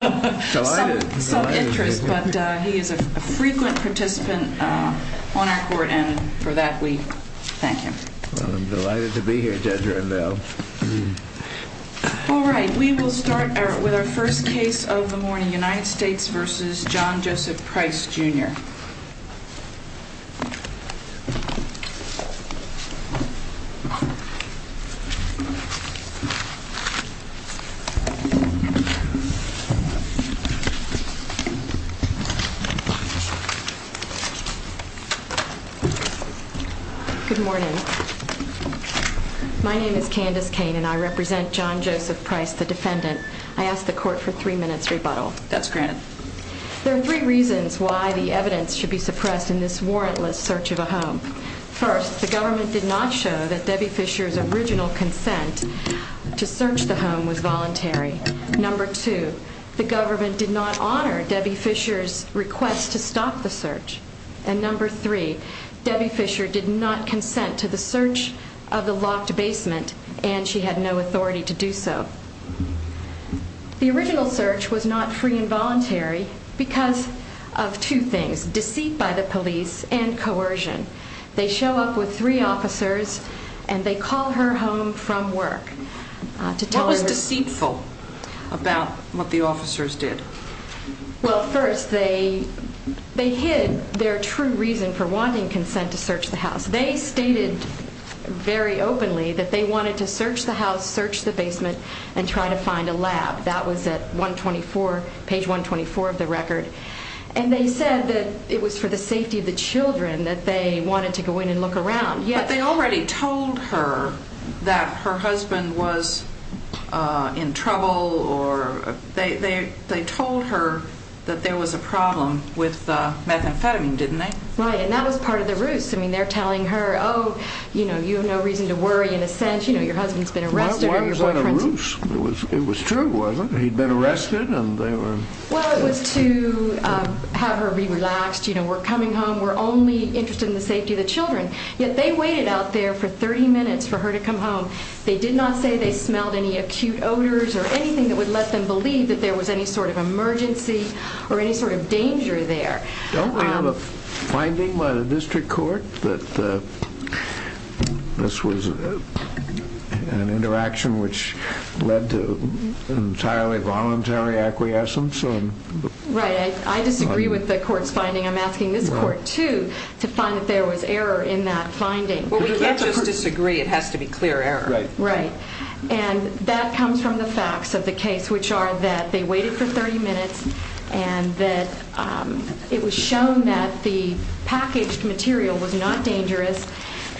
We will start with our first case of the morning, United States v. John Joseph Price Jr. Good morning. My name is Candace Kane and I represent John Joseph Price, the defendant. I ask the court for three minutes rebuttal. That's granted. There are three reasons why the evidence should be suppressed in this warrantless search of a home. First, the government did not show that Debbie Fisher's original consent to search the home was voluntary. Number two, the government did not honor Debbie Fisher's request to stop the search. And number three, Debbie Fisher did not consent to the search of the locked basement and she had no authority to do so. The original search was not free and voluntary because of two things, deceit by the police and coercion. They show up with three officers and they call her home from work. What was deceitful about what the officers did? Well, first, they hid their true reason for wanting consent to search the house. They stated very openly that they wanted to search the house, search the basement and try to find a lab. That was at page 124 of the record. And they said that it was for the safety of the children that they wanted to go in and look around. But they already told her that her husband was in trouble or they told her that there was a problem with methamphetamine, didn't they? Right, and that was part of the ruse. I mean, they're telling her, oh, you know, you have no reason to worry in a sense. You know, your husband's been arrested and your boyfriend's... Why was that a ruse? It was true, wasn't it? He'd been arrested and they were... Well, it was to have her be relaxed. You know, we're coming home. We're only interested in the safety of the children. Yet they waited out there for 30 minutes for her to come home. They did not say they smelled any acute odors or anything that would let them believe that there was any sort of emergency or any sort of danger there. Don't we have a finding by the district court that this was an interaction which led to entirely voluntary acquiescence? Right. I disagree with the court's finding. I'm asking this court, too, to find that there was error in that finding. Well, we can't just disagree. It has to be clear error. Right. Right. And that comes from the facts of the case, which are that they waited for 30 minutes and that it was shown that the packaged material was not dangerous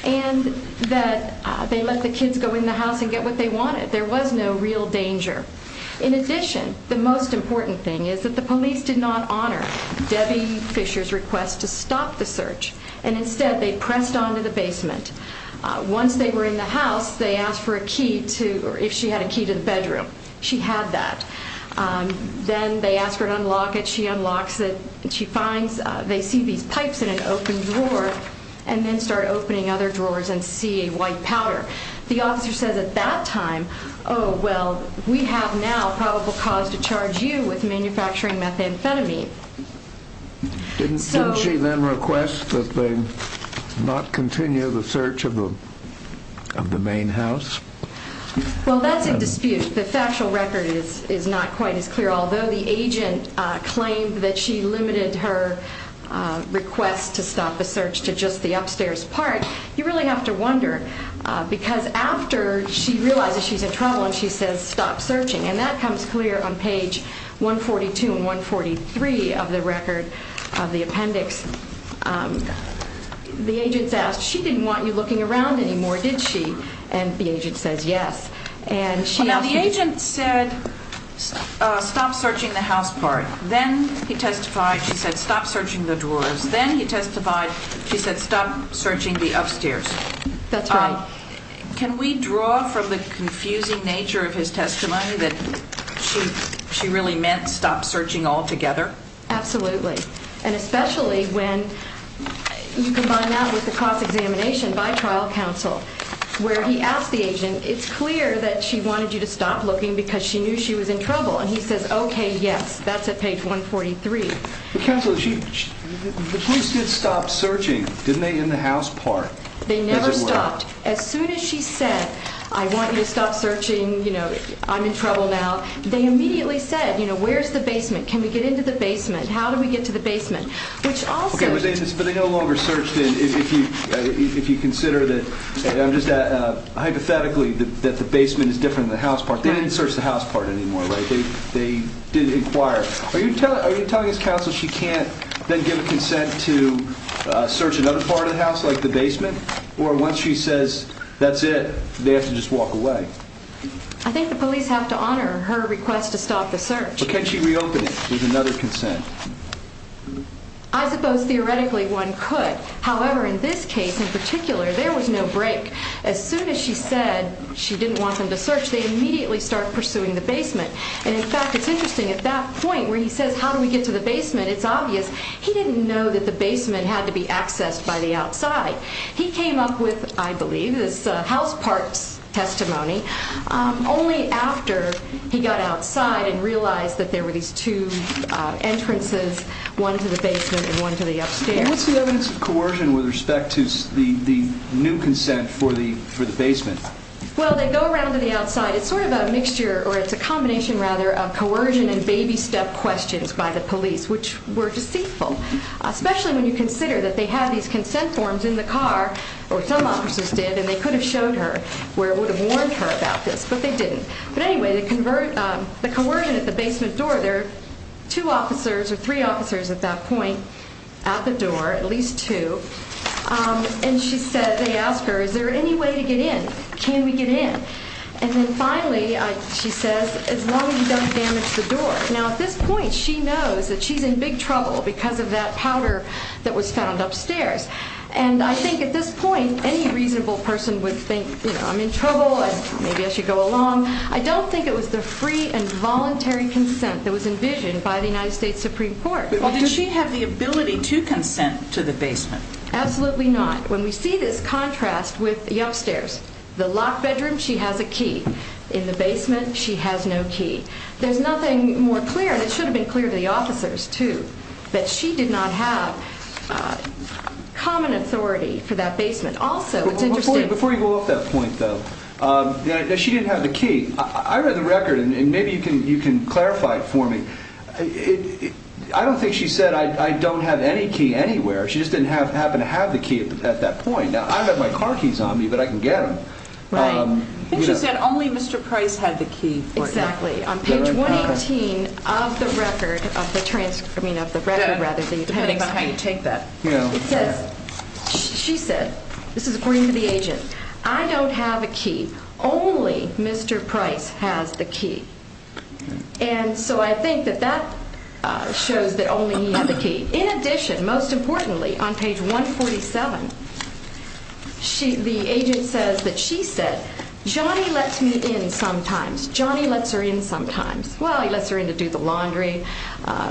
and that they let the kids go in the house and get what they wanted. There was no real danger. In addition, the most important thing is that the police did not honor Debbie Fisher's request to stop the search, and instead they pressed on to the basement. Once they were in the house, they asked for a key to or if she had a key to the bedroom. She had that. Then they asked her to unlock it. She unlocks it. She finds they see these pipes in an open drawer and then start opening other drawers and see a white powder. The officer says at that time, oh, well, we have now probable cause to charge you with manufacturing methamphetamine. Didn't she then request that they not continue the search of the main house? Well, that's in dispute. The factual record is not quite as clear. Although the agent claimed that she limited her request to stop the search to just the upstairs part, you really have to wonder because after she realizes she's in trouble and she says stop searching, and that comes clear on page 142 and 143 of the record of the appendix. The agent's asked, she didn't want you looking around anymore, did she? And the agent says yes. Now, the agent said stop searching the house part. Then he testified. She said stop searching the drawers. Then he testified. She said stop searching the upstairs. That's right. Can we draw from the confusing nature of his testimony that she really meant stop searching altogether? Absolutely. And especially when you combine that with the cost examination by trial counsel where he asked the agent, it's clear that she wanted you to stop looking because she knew she was in trouble. And he says, okay, yes. That's at page 143. Counsel, the police did stop searching, didn't they, in the house part? They never stopped. As soon as she said I want you to stop searching, you know, I'm in trouble now, they immediately said, you know, where's the basement? Can we get into the basement? How do we get to the basement? Okay, but they no longer searched in if you consider that, hypothetically, that the basement is different than the house part. They didn't search the house part anymore, right? They didn't inquire. Are you telling us, counsel, she can't then give consent to search another part of the house like the basement? Or once she says that's it, they have to just walk away? I think the police have to honor her request to stop the search. But can she reopen it with another consent? I suppose theoretically one could. However, in this case in particular, there was no break. As soon as she said she didn't want them to search, they immediately started pursuing the basement. And, in fact, it's interesting. At that point where he says how do we get to the basement, it's obvious. He didn't know that the basement had to be accessed by the outside. He came up with, I believe, this house parts testimony only after he got outside and realized that there were these two entrances, one to the basement and one to the upstairs. What's the evidence of coercion with respect to the new consent for the basement? Well, they go around to the outside. It's sort of a mixture or it's a combination, rather, of coercion and baby step questions by the police, which were deceitful, especially when you consider that they had these consent forms in the car, or some officers did, and they could have showed her or would have warned her about this, but they didn't. But, anyway, the coercion at the basement door, there are two officers or three officers at that point out the door, at least two, and they ask her is there any way to get in? Can we get in? And then, finally, she says, as long as you don't damage the door. Now, at this point, she knows that she's in big trouble because of that powder that was found upstairs, and I think at this point any reasonable person would think, you know, I'm in trouble, maybe I should go along. I don't think it was the free and voluntary consent that was envisioned by the United States Supreme Court. Did she have the ability to consent to the basement? Absolutely not. When we see this contrast with the upstairs, the locked bedroom, she has a key. In the basement, she has no key. There's nothing more clear, and it should have been clear to the officers, too, that she did not have common authority for that basement. Also, it's interesting. Before you go off that point, though, she didn't have the key. I read the record, and maybe you can clarify it for me. I don't think she said, I don't have any key anywhere. She just didn't happen to have the key at that point. Now, I've got my car keys on me, but I can get them. Right. I think she said only Mr. Price had the key for it. Exactly. On page 118 of the record, of the transcript, I mean of the record rather than the appendix. Depending on how you take that. It says, she said, this is according to the agent, I don't have a key. Only Mr. Price has the key. And so I think that that shows that only he had the key. In addition, most importantly, on page 147, the agent says that she said, Johnny lets me in sometimes. Johnny lets her in sometimes. Well, he lets her in to do the laundry,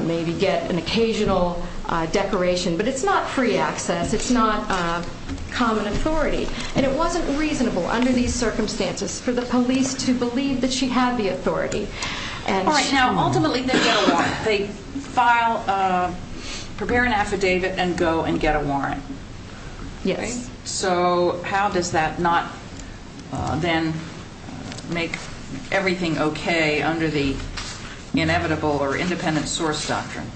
maybe get an occasional decoration. But it's not free access. It's not common authority. And it wasn't reasonable under these circumstances for the police to believe that she had the authority. All right. Now, ultimately, they go on. They file, prepare an affidavit and go and get a warrant. Yes. So how does that not then make everything okay under the inevitable or independent source doctrine?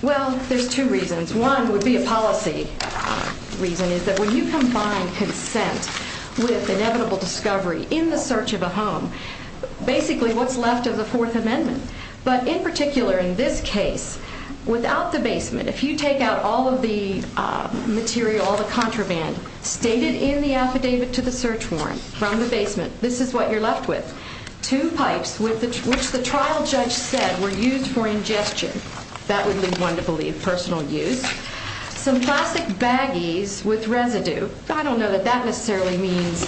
Well, there's two reasons. One would be a policy reason is that when you combine consent with inevitable discovery in the search of a home, basically what's left of the Fourth Amendment. But in particular in this case, without the basement, if you take out all of the material, all the contraband stated in the affidavit to the search warrant from the basement, this is what you're left with. Two pipes which the trial judge said were used for ingestion. That would be one to believe, personal use. Some plastic baggies with residue. I don't know that that necessarily means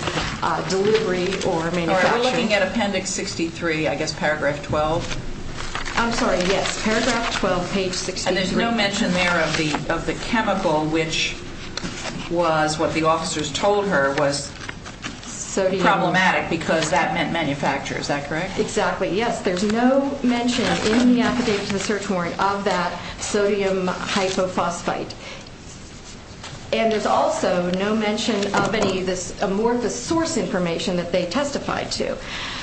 delivery or manufacturing. Are you looking at Appendix 63, I guess, Paragraph 12? I'm sorry. Yes. Paragraph 12, Page 63. And there's no mention there of the chemical which was what the officers told her was problematic because that meant manufacture. Is that correct? Exactly. Yes. There's no mention in the affidavit to the search warrant of that sodium hypophosphate. And there's also no mention of any of this amorphous source information that they testified to.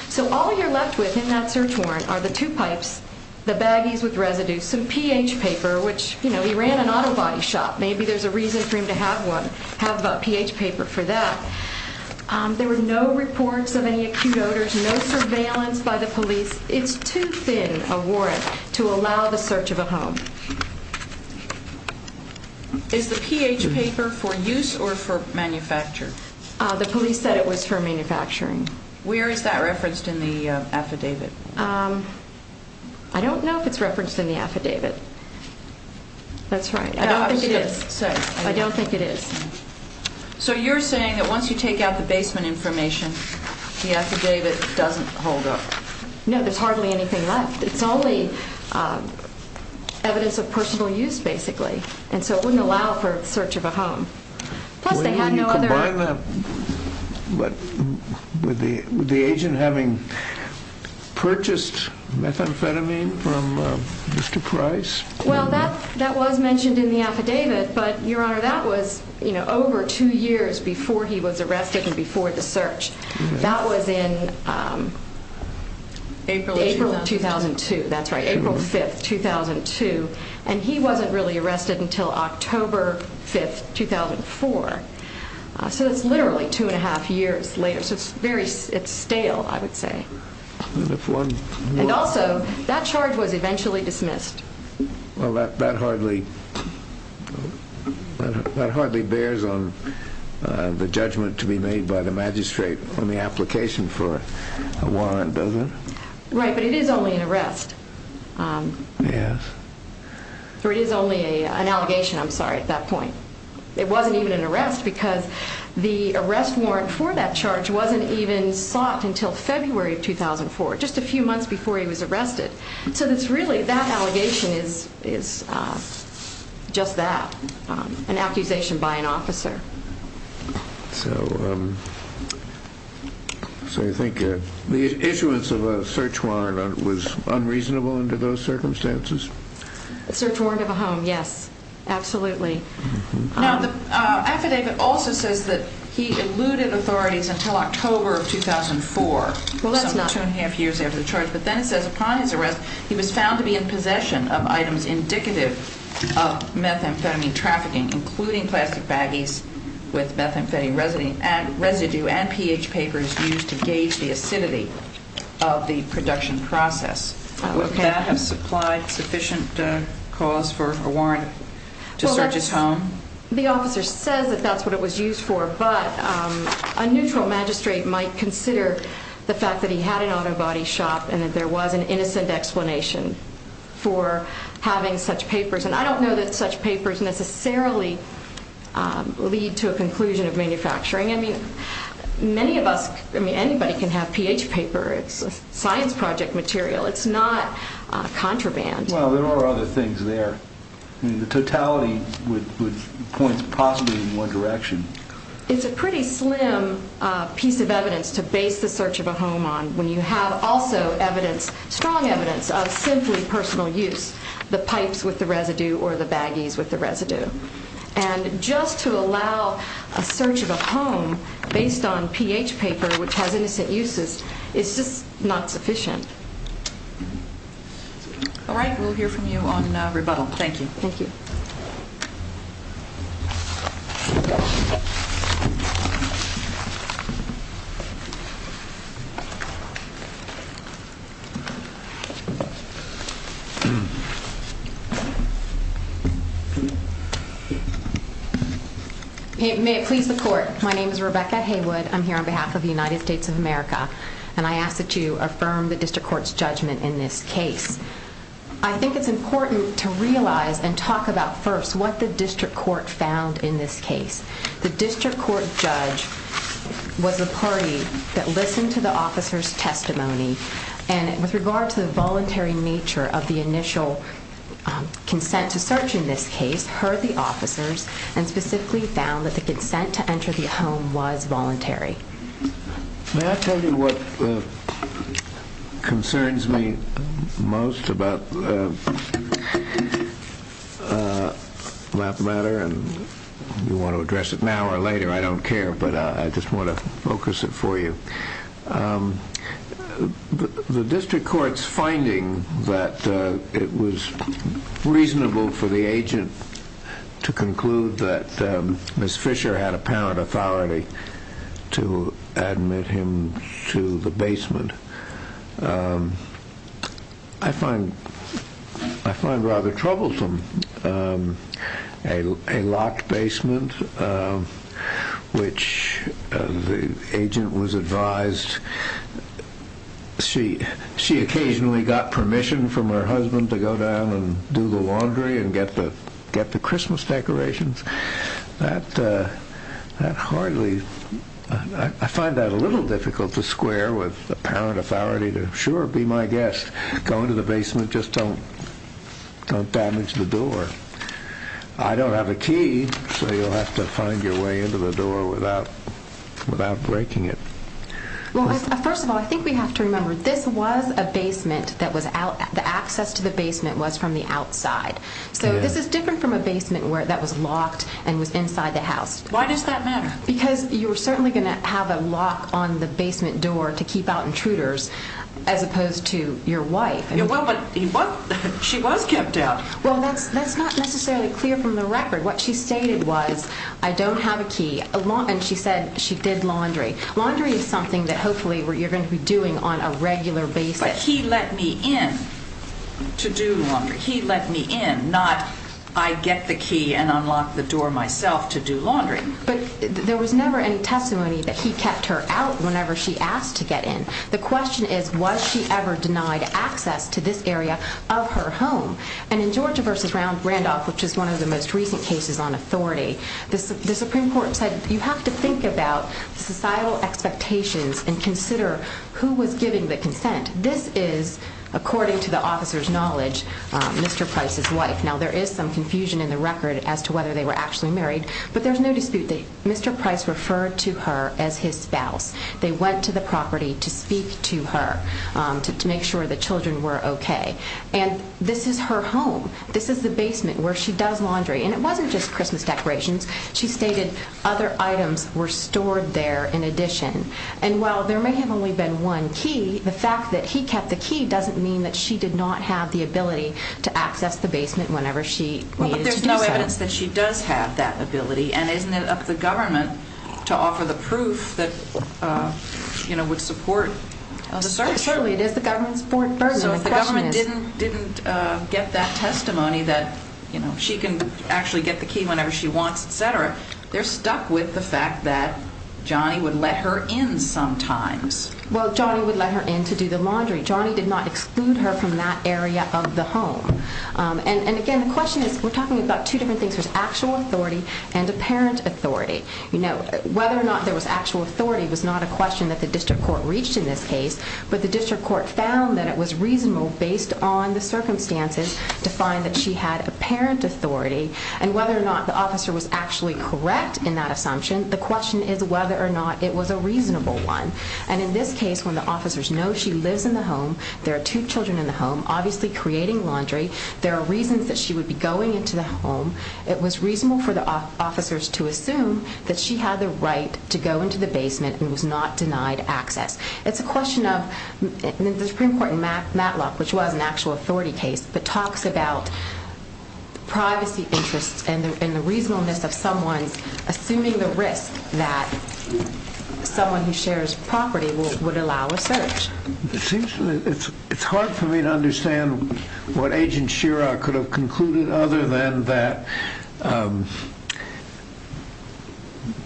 So all you're left with in that search warrant are the two pipes, the baggies with residue, some pH paper, which, you know, he ran an auto body shop. Maybe there's a reason for him to have one, have a pH paper for that. There were no reports of any acute odors, no surveillance by the police. It's too thin a warrant to allow the search of a home. Is the pH paper for use or for manufacture? The police said it was for manufacturing. Where is that referenced in the affidavit? I don't know if it's referenced in the affidavit. That's right. I don't think it is. I don't think it is. So you're saying that once you take out the basement information, the affidavit doesn't hold up. No, there's hardly anything left. It's only evidence of personal use, basically. And so it wouldn't allow for the search of a home. Plus, they had no other... Would you combine that with the agent having purchased methamphetamine from Mr. Price? Well, that was mentioned in the affidavit. But, Your Honor, that was over two years before he was arrested and before the search. That was in April of 2002. That's right, April 5th, 2002. And he wasn't really arrested until October 5th, 2004. So it's literally two and a half years later. So it's stale, I would say. And also, that charge was eventually dismissed. Well, that hardly bears on the judgment to be made by the magistrate on the application for a warrant, does it? Right, but it is only an arrest. Yes. Or it is only an allegation, I'm sorry, at that point. It wasn't even an arrest because the arrest warrant for that charge wasn't even sought until February of 2004, just a few months before he was arrested. So it's really that allegation is just that, an accusation by an officer. So you think the issuance of a search warrant was unreasonable under those circumstances? A search warrant of a home, yes, absolutely. Now, the affidavit also says that he eluded authorities until October of 2004, but then it says upon his arrest he was found to be in possession of items indicative of methamphetamine trafficking, including plastic baggies with methamphetamine residue and pH papers used to gauge the acidity of the production process. Would that have supplied sufficient cause for a warrant to search his home? Well, the officer says that that's what it was used for, but a neutral magistrate might consider the fact that he had an auto body shop and that there was an innocent explanation for having such papers, and I don't know that such papers necessarily lead to a conclusion of manufacturing. I mean, many of us, I mean, anybody can have pH paper. It's a science project material. It's not contraband. Well, there are other things there. I mean, the totality would point possibly in one direction. It's a pretty slim piece of evidence to base the search of a home on when you have also evidence, strong evidence of simply personal use, the pipes with the residue or the baggies with the residue. And just to allow a search of a home based on pH paper, which has innocent uses, is just not sufficient. All right. We'll hear from you on rebuttal. Thank you. Thank you. May it please the Court. My name is Rebecca Haywood. I'm here on behalf of the United States of America, and I ask that you affirm the district court's judgment in this case. I think it's important to realize and talk about first what the district court found in this case. The district court judge was the party that listened to the officer's testimony, and with regard to the voluntary nature of the initial consent to search in this case, heard the officers and specifically found that the consent to enter the home was voluntary. May I tell you what concerns me most about that matter? You want to address it now or later, I don't care, but I just want to focus it for you. The district court's finding that it was reasonable for the agent to conclude that Ms. Fisher had apparent authority to admit him to the basement. I find rather troublesome a locked basement, which the agent was advised. She occasionally got permission from her husband to go down and do the laundry and get the Christmas decorations. I find that a little difficult to square with apparent authority to, sure, be my guest, go into the basement, just don't damage the door. I don't have a key, so you'll have to find your way into the door without breaking it. First of all, I think we have to remember this was a basement. The access to the basement was from the outside. So this is different from a basement that was locked and was inside the house. Why does that matter? Because you're certainly going to have a lock on the basement door to keep out intruders, as opposed to your wife. But she was kept out. Well, that's not necessarily clear from the record. What she stated was, I don't have a key, and she said she did laundry. Laundry is something that hopefully you're going to be doing on a regular basis. But he let me in to do laundry. He let me in, not I get the key and unlock the door myself to do laundry. But there was never any testimony that he kept her out whenever she asked to get in. The question is, was she ever denied access to this area of her home? And in Georgia v. Randolph, which is one of the most recent cases on authority, the Supreme Court said you have to think about societal expectations and consider who was giving the consent. This is, according to the officer's knowledge, Mr. Price's wife. Now, there is some confusion in the record as to whether they were actually married, but there's no dispute that Mr. Price referred to her as his spouse. They went to the property to speak to her to make sure the children were okay. And this is her home. This is the basement where she does laundry. And it wasn't just Christmas decorations. She stated other items were stored there in addition. And while there may have only been one key, the fact that he kept the key doesn't mean that she did not have the ability to access the basement whenever she needed to do so. But there's no evidence that she does have that ability. And isn't it up to the government to offer the proof that would support the search? Certainly it is the government's fourth burden. So if the government didn't get that testimony that, you know, she can actually get the key whenever she wants, et cetera, they're stuck with the fact that Johnny would let her in sometimes. Well, Johnny would let her in to do the laundry. Johnny did not exclude her from that area of the home. And, again, the question is we're talking about two different things. There's actual authority and apparent authority. You know, whether or not there was actual authority was not a question that the district court reached in this case, but the district court found that it was reasonable based on the circumstances to find that she had apparent authority. And whether or not the officer was actually correct in that assumption, the question is whether or not it was a reasonable one. And in this case, when the officers know she lives in the home, there are two children in the home, obviously creating laundry, there are reasons that she would be going into the home, it was reasonable for the officers to assume that she had the right to go into the basement and was not denied access. It's a question of the Supreme Court in Matlock, which was an actual authority case, that talks about privacy interests and the reasonableness of someone assuming the risk that someone who shares property would allow a search. It's hard for me to understand what Agent Shira could have concluded other than that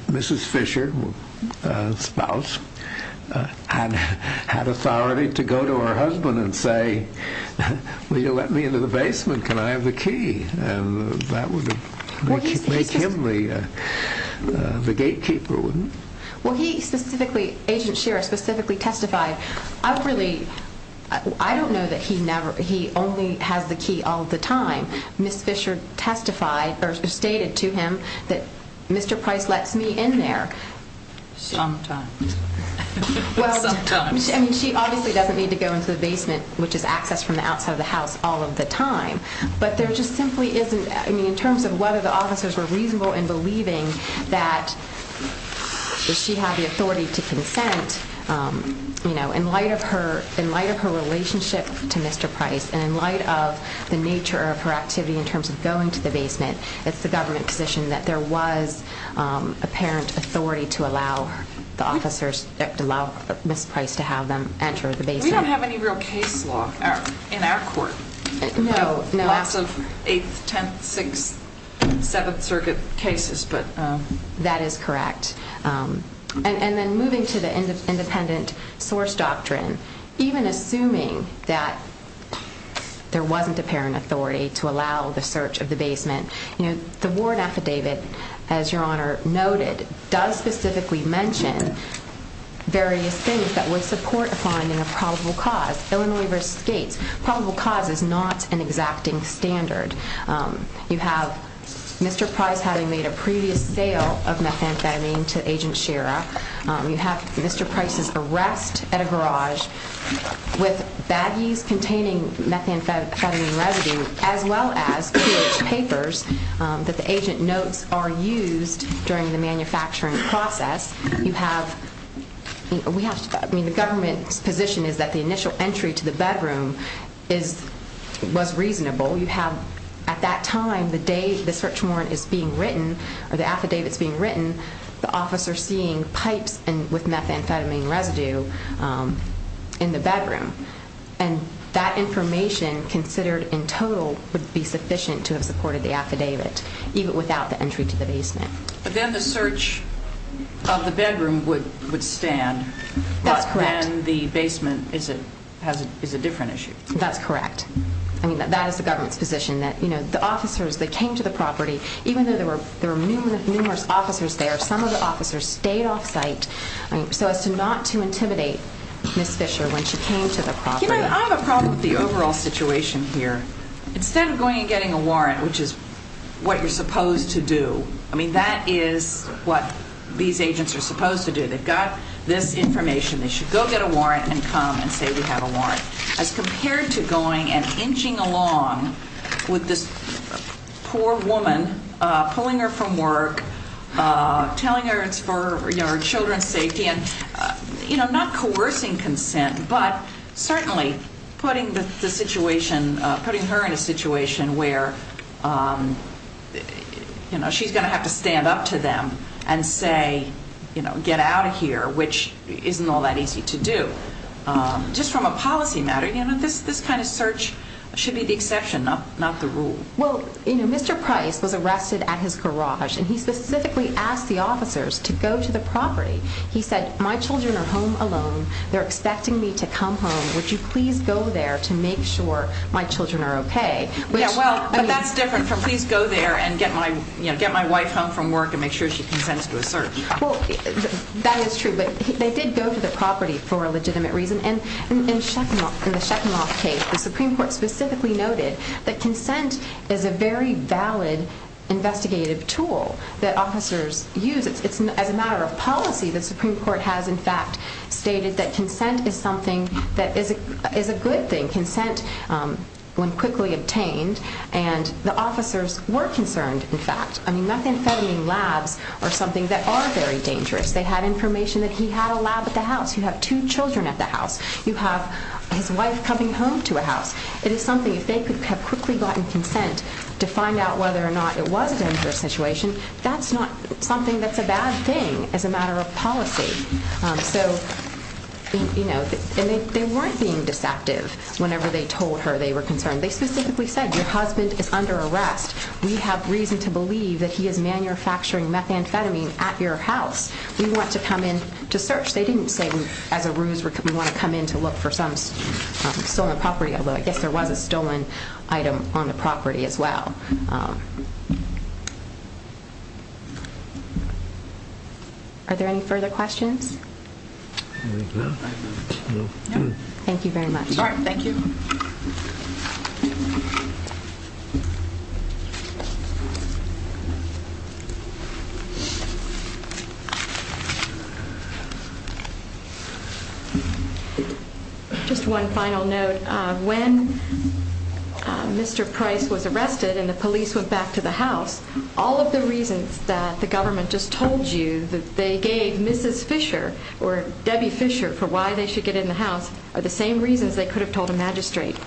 Mrs. Fisher, the spouse, had authority to go to her husband and say, will you let me into the basement, can I have the key? And that would make him the gatekeeper, wouldn't it? Well, Agent Shira specifically testified, I don't know that he only has the key all the time. Mrs. Fisher stated to him that Mr. Price lets me in there. Sometimes. She obviously doesn't need to go into the basement, which is access from the outside of the house, all of the time. But there just simply isn't, in terms of whether the officers were reasonable in believing that she had the authority to consent, in light of her relationship to Mr. Price and in light of the nature of her activity in terms of going to the basement, it's the government position that there was apparent authority to allow Mr. Price to have them enter the basement. We don't have any real case law in our court. Lots of 8th, 10th, 6th, 7th Circuit cases. That is correct. And then moving to the independent source doctrine, even assuming that there wasn't apparent authority to allow the search of the basement, the warrant affidavit, as Your Honor noted, does specifically mention various things that would support a finding of probable cause, Illinois v. Gates. Probable cause is not an exacting standard. You have Mr. Price having made a previous sale of methamphetamine to Agent Shira. You have Mr. Price's arrest at a garage with baggies containing methamphetamine residue as well as pH papers that the agent notes are used during the manufacturing process. The government's position is that the initial entry to the bedroom was reasonable. At that time, the day the search warrant is being written, or the affidavit is being written, the officer is seeing pipes with methamphetamine residue in the bedroom. And that information considered in total would be sufficient to have supported the affidavit, even without the entry to the basement. But then the search of the bedroom would stand. That's correct. But then the basement is a different issue. That's correct. I mean, that is the government's position, that the officers that came to the property, even though there were numerous officers there, some of the officers stayed off-site so as not to intimidate Ms. Fisher when she came to the property. You know, I have a problem with the overall situation here. Instead of going and getting a warrant, which is what you're supposed to do, I mean, that is what these agents are supposed to do. They've got this information. They should go get a warrant and come and say, as compared to going and inching along with this poor woman, pulling her from work, telling her it's for your children's safety and, you know, not coercing consent, but certainly putting the situation, putting her in a situation where, you know, she's going to have to stand up to them and say, you know, get out of here, which isn't all that easy to do. Just from a policy matter, you know, this kind of search should be the exception, not the rule. Well, you know, Mr. Price was arrested at his garage, and he specifically asked the officers to go to the property. He said, my children are home alone. They're expecting me to come home. Would you please go there to make sure my children are okay? Yeah, well, but that's different from please go there and get my wife home from work and make sure she consents to a search. Well, that is true, but they did go to the property for a legitimate reason. And in the Shekhinoff case, the Supreme Court specifically noted that consent is a very valid investigative tool that officers use. It's a matter of policy. The Supreme Court has, in fact, stated that consent is something that is a good thing, consent when quickly obtained, and the officers were concerned, in fact. I mean, methamphetamine labs are something that are very dangerous. They had information that he had a lab at the house. You have two children at the house. You have his wife coming home to a house. It is something, if they could have quickly gotten consent to find out whether or not it was a dangerous situation, that's not something that's a bad thing as a matter of policy. So, you know, they weren't being deceptive whenever they told her they were concerned. They specifically said, your husband is under arrest. We have reason to believe that he is manufacturing methamphetamine at your house. We want to come in to search. They didn't say, as a ruse, we want to come in to look for some stolen property, although I guess there was a stolen item on the property as well. Are there any further questions? Thank you very much. All right, thank you. Just one final note. When Mr. Price was arrested and the police went back to the house, all of the reasons that the government just told you that they gave Mrs. Fisher or Debbie Fisher for why they should get in the house are the same reasons they could have told a magistrate.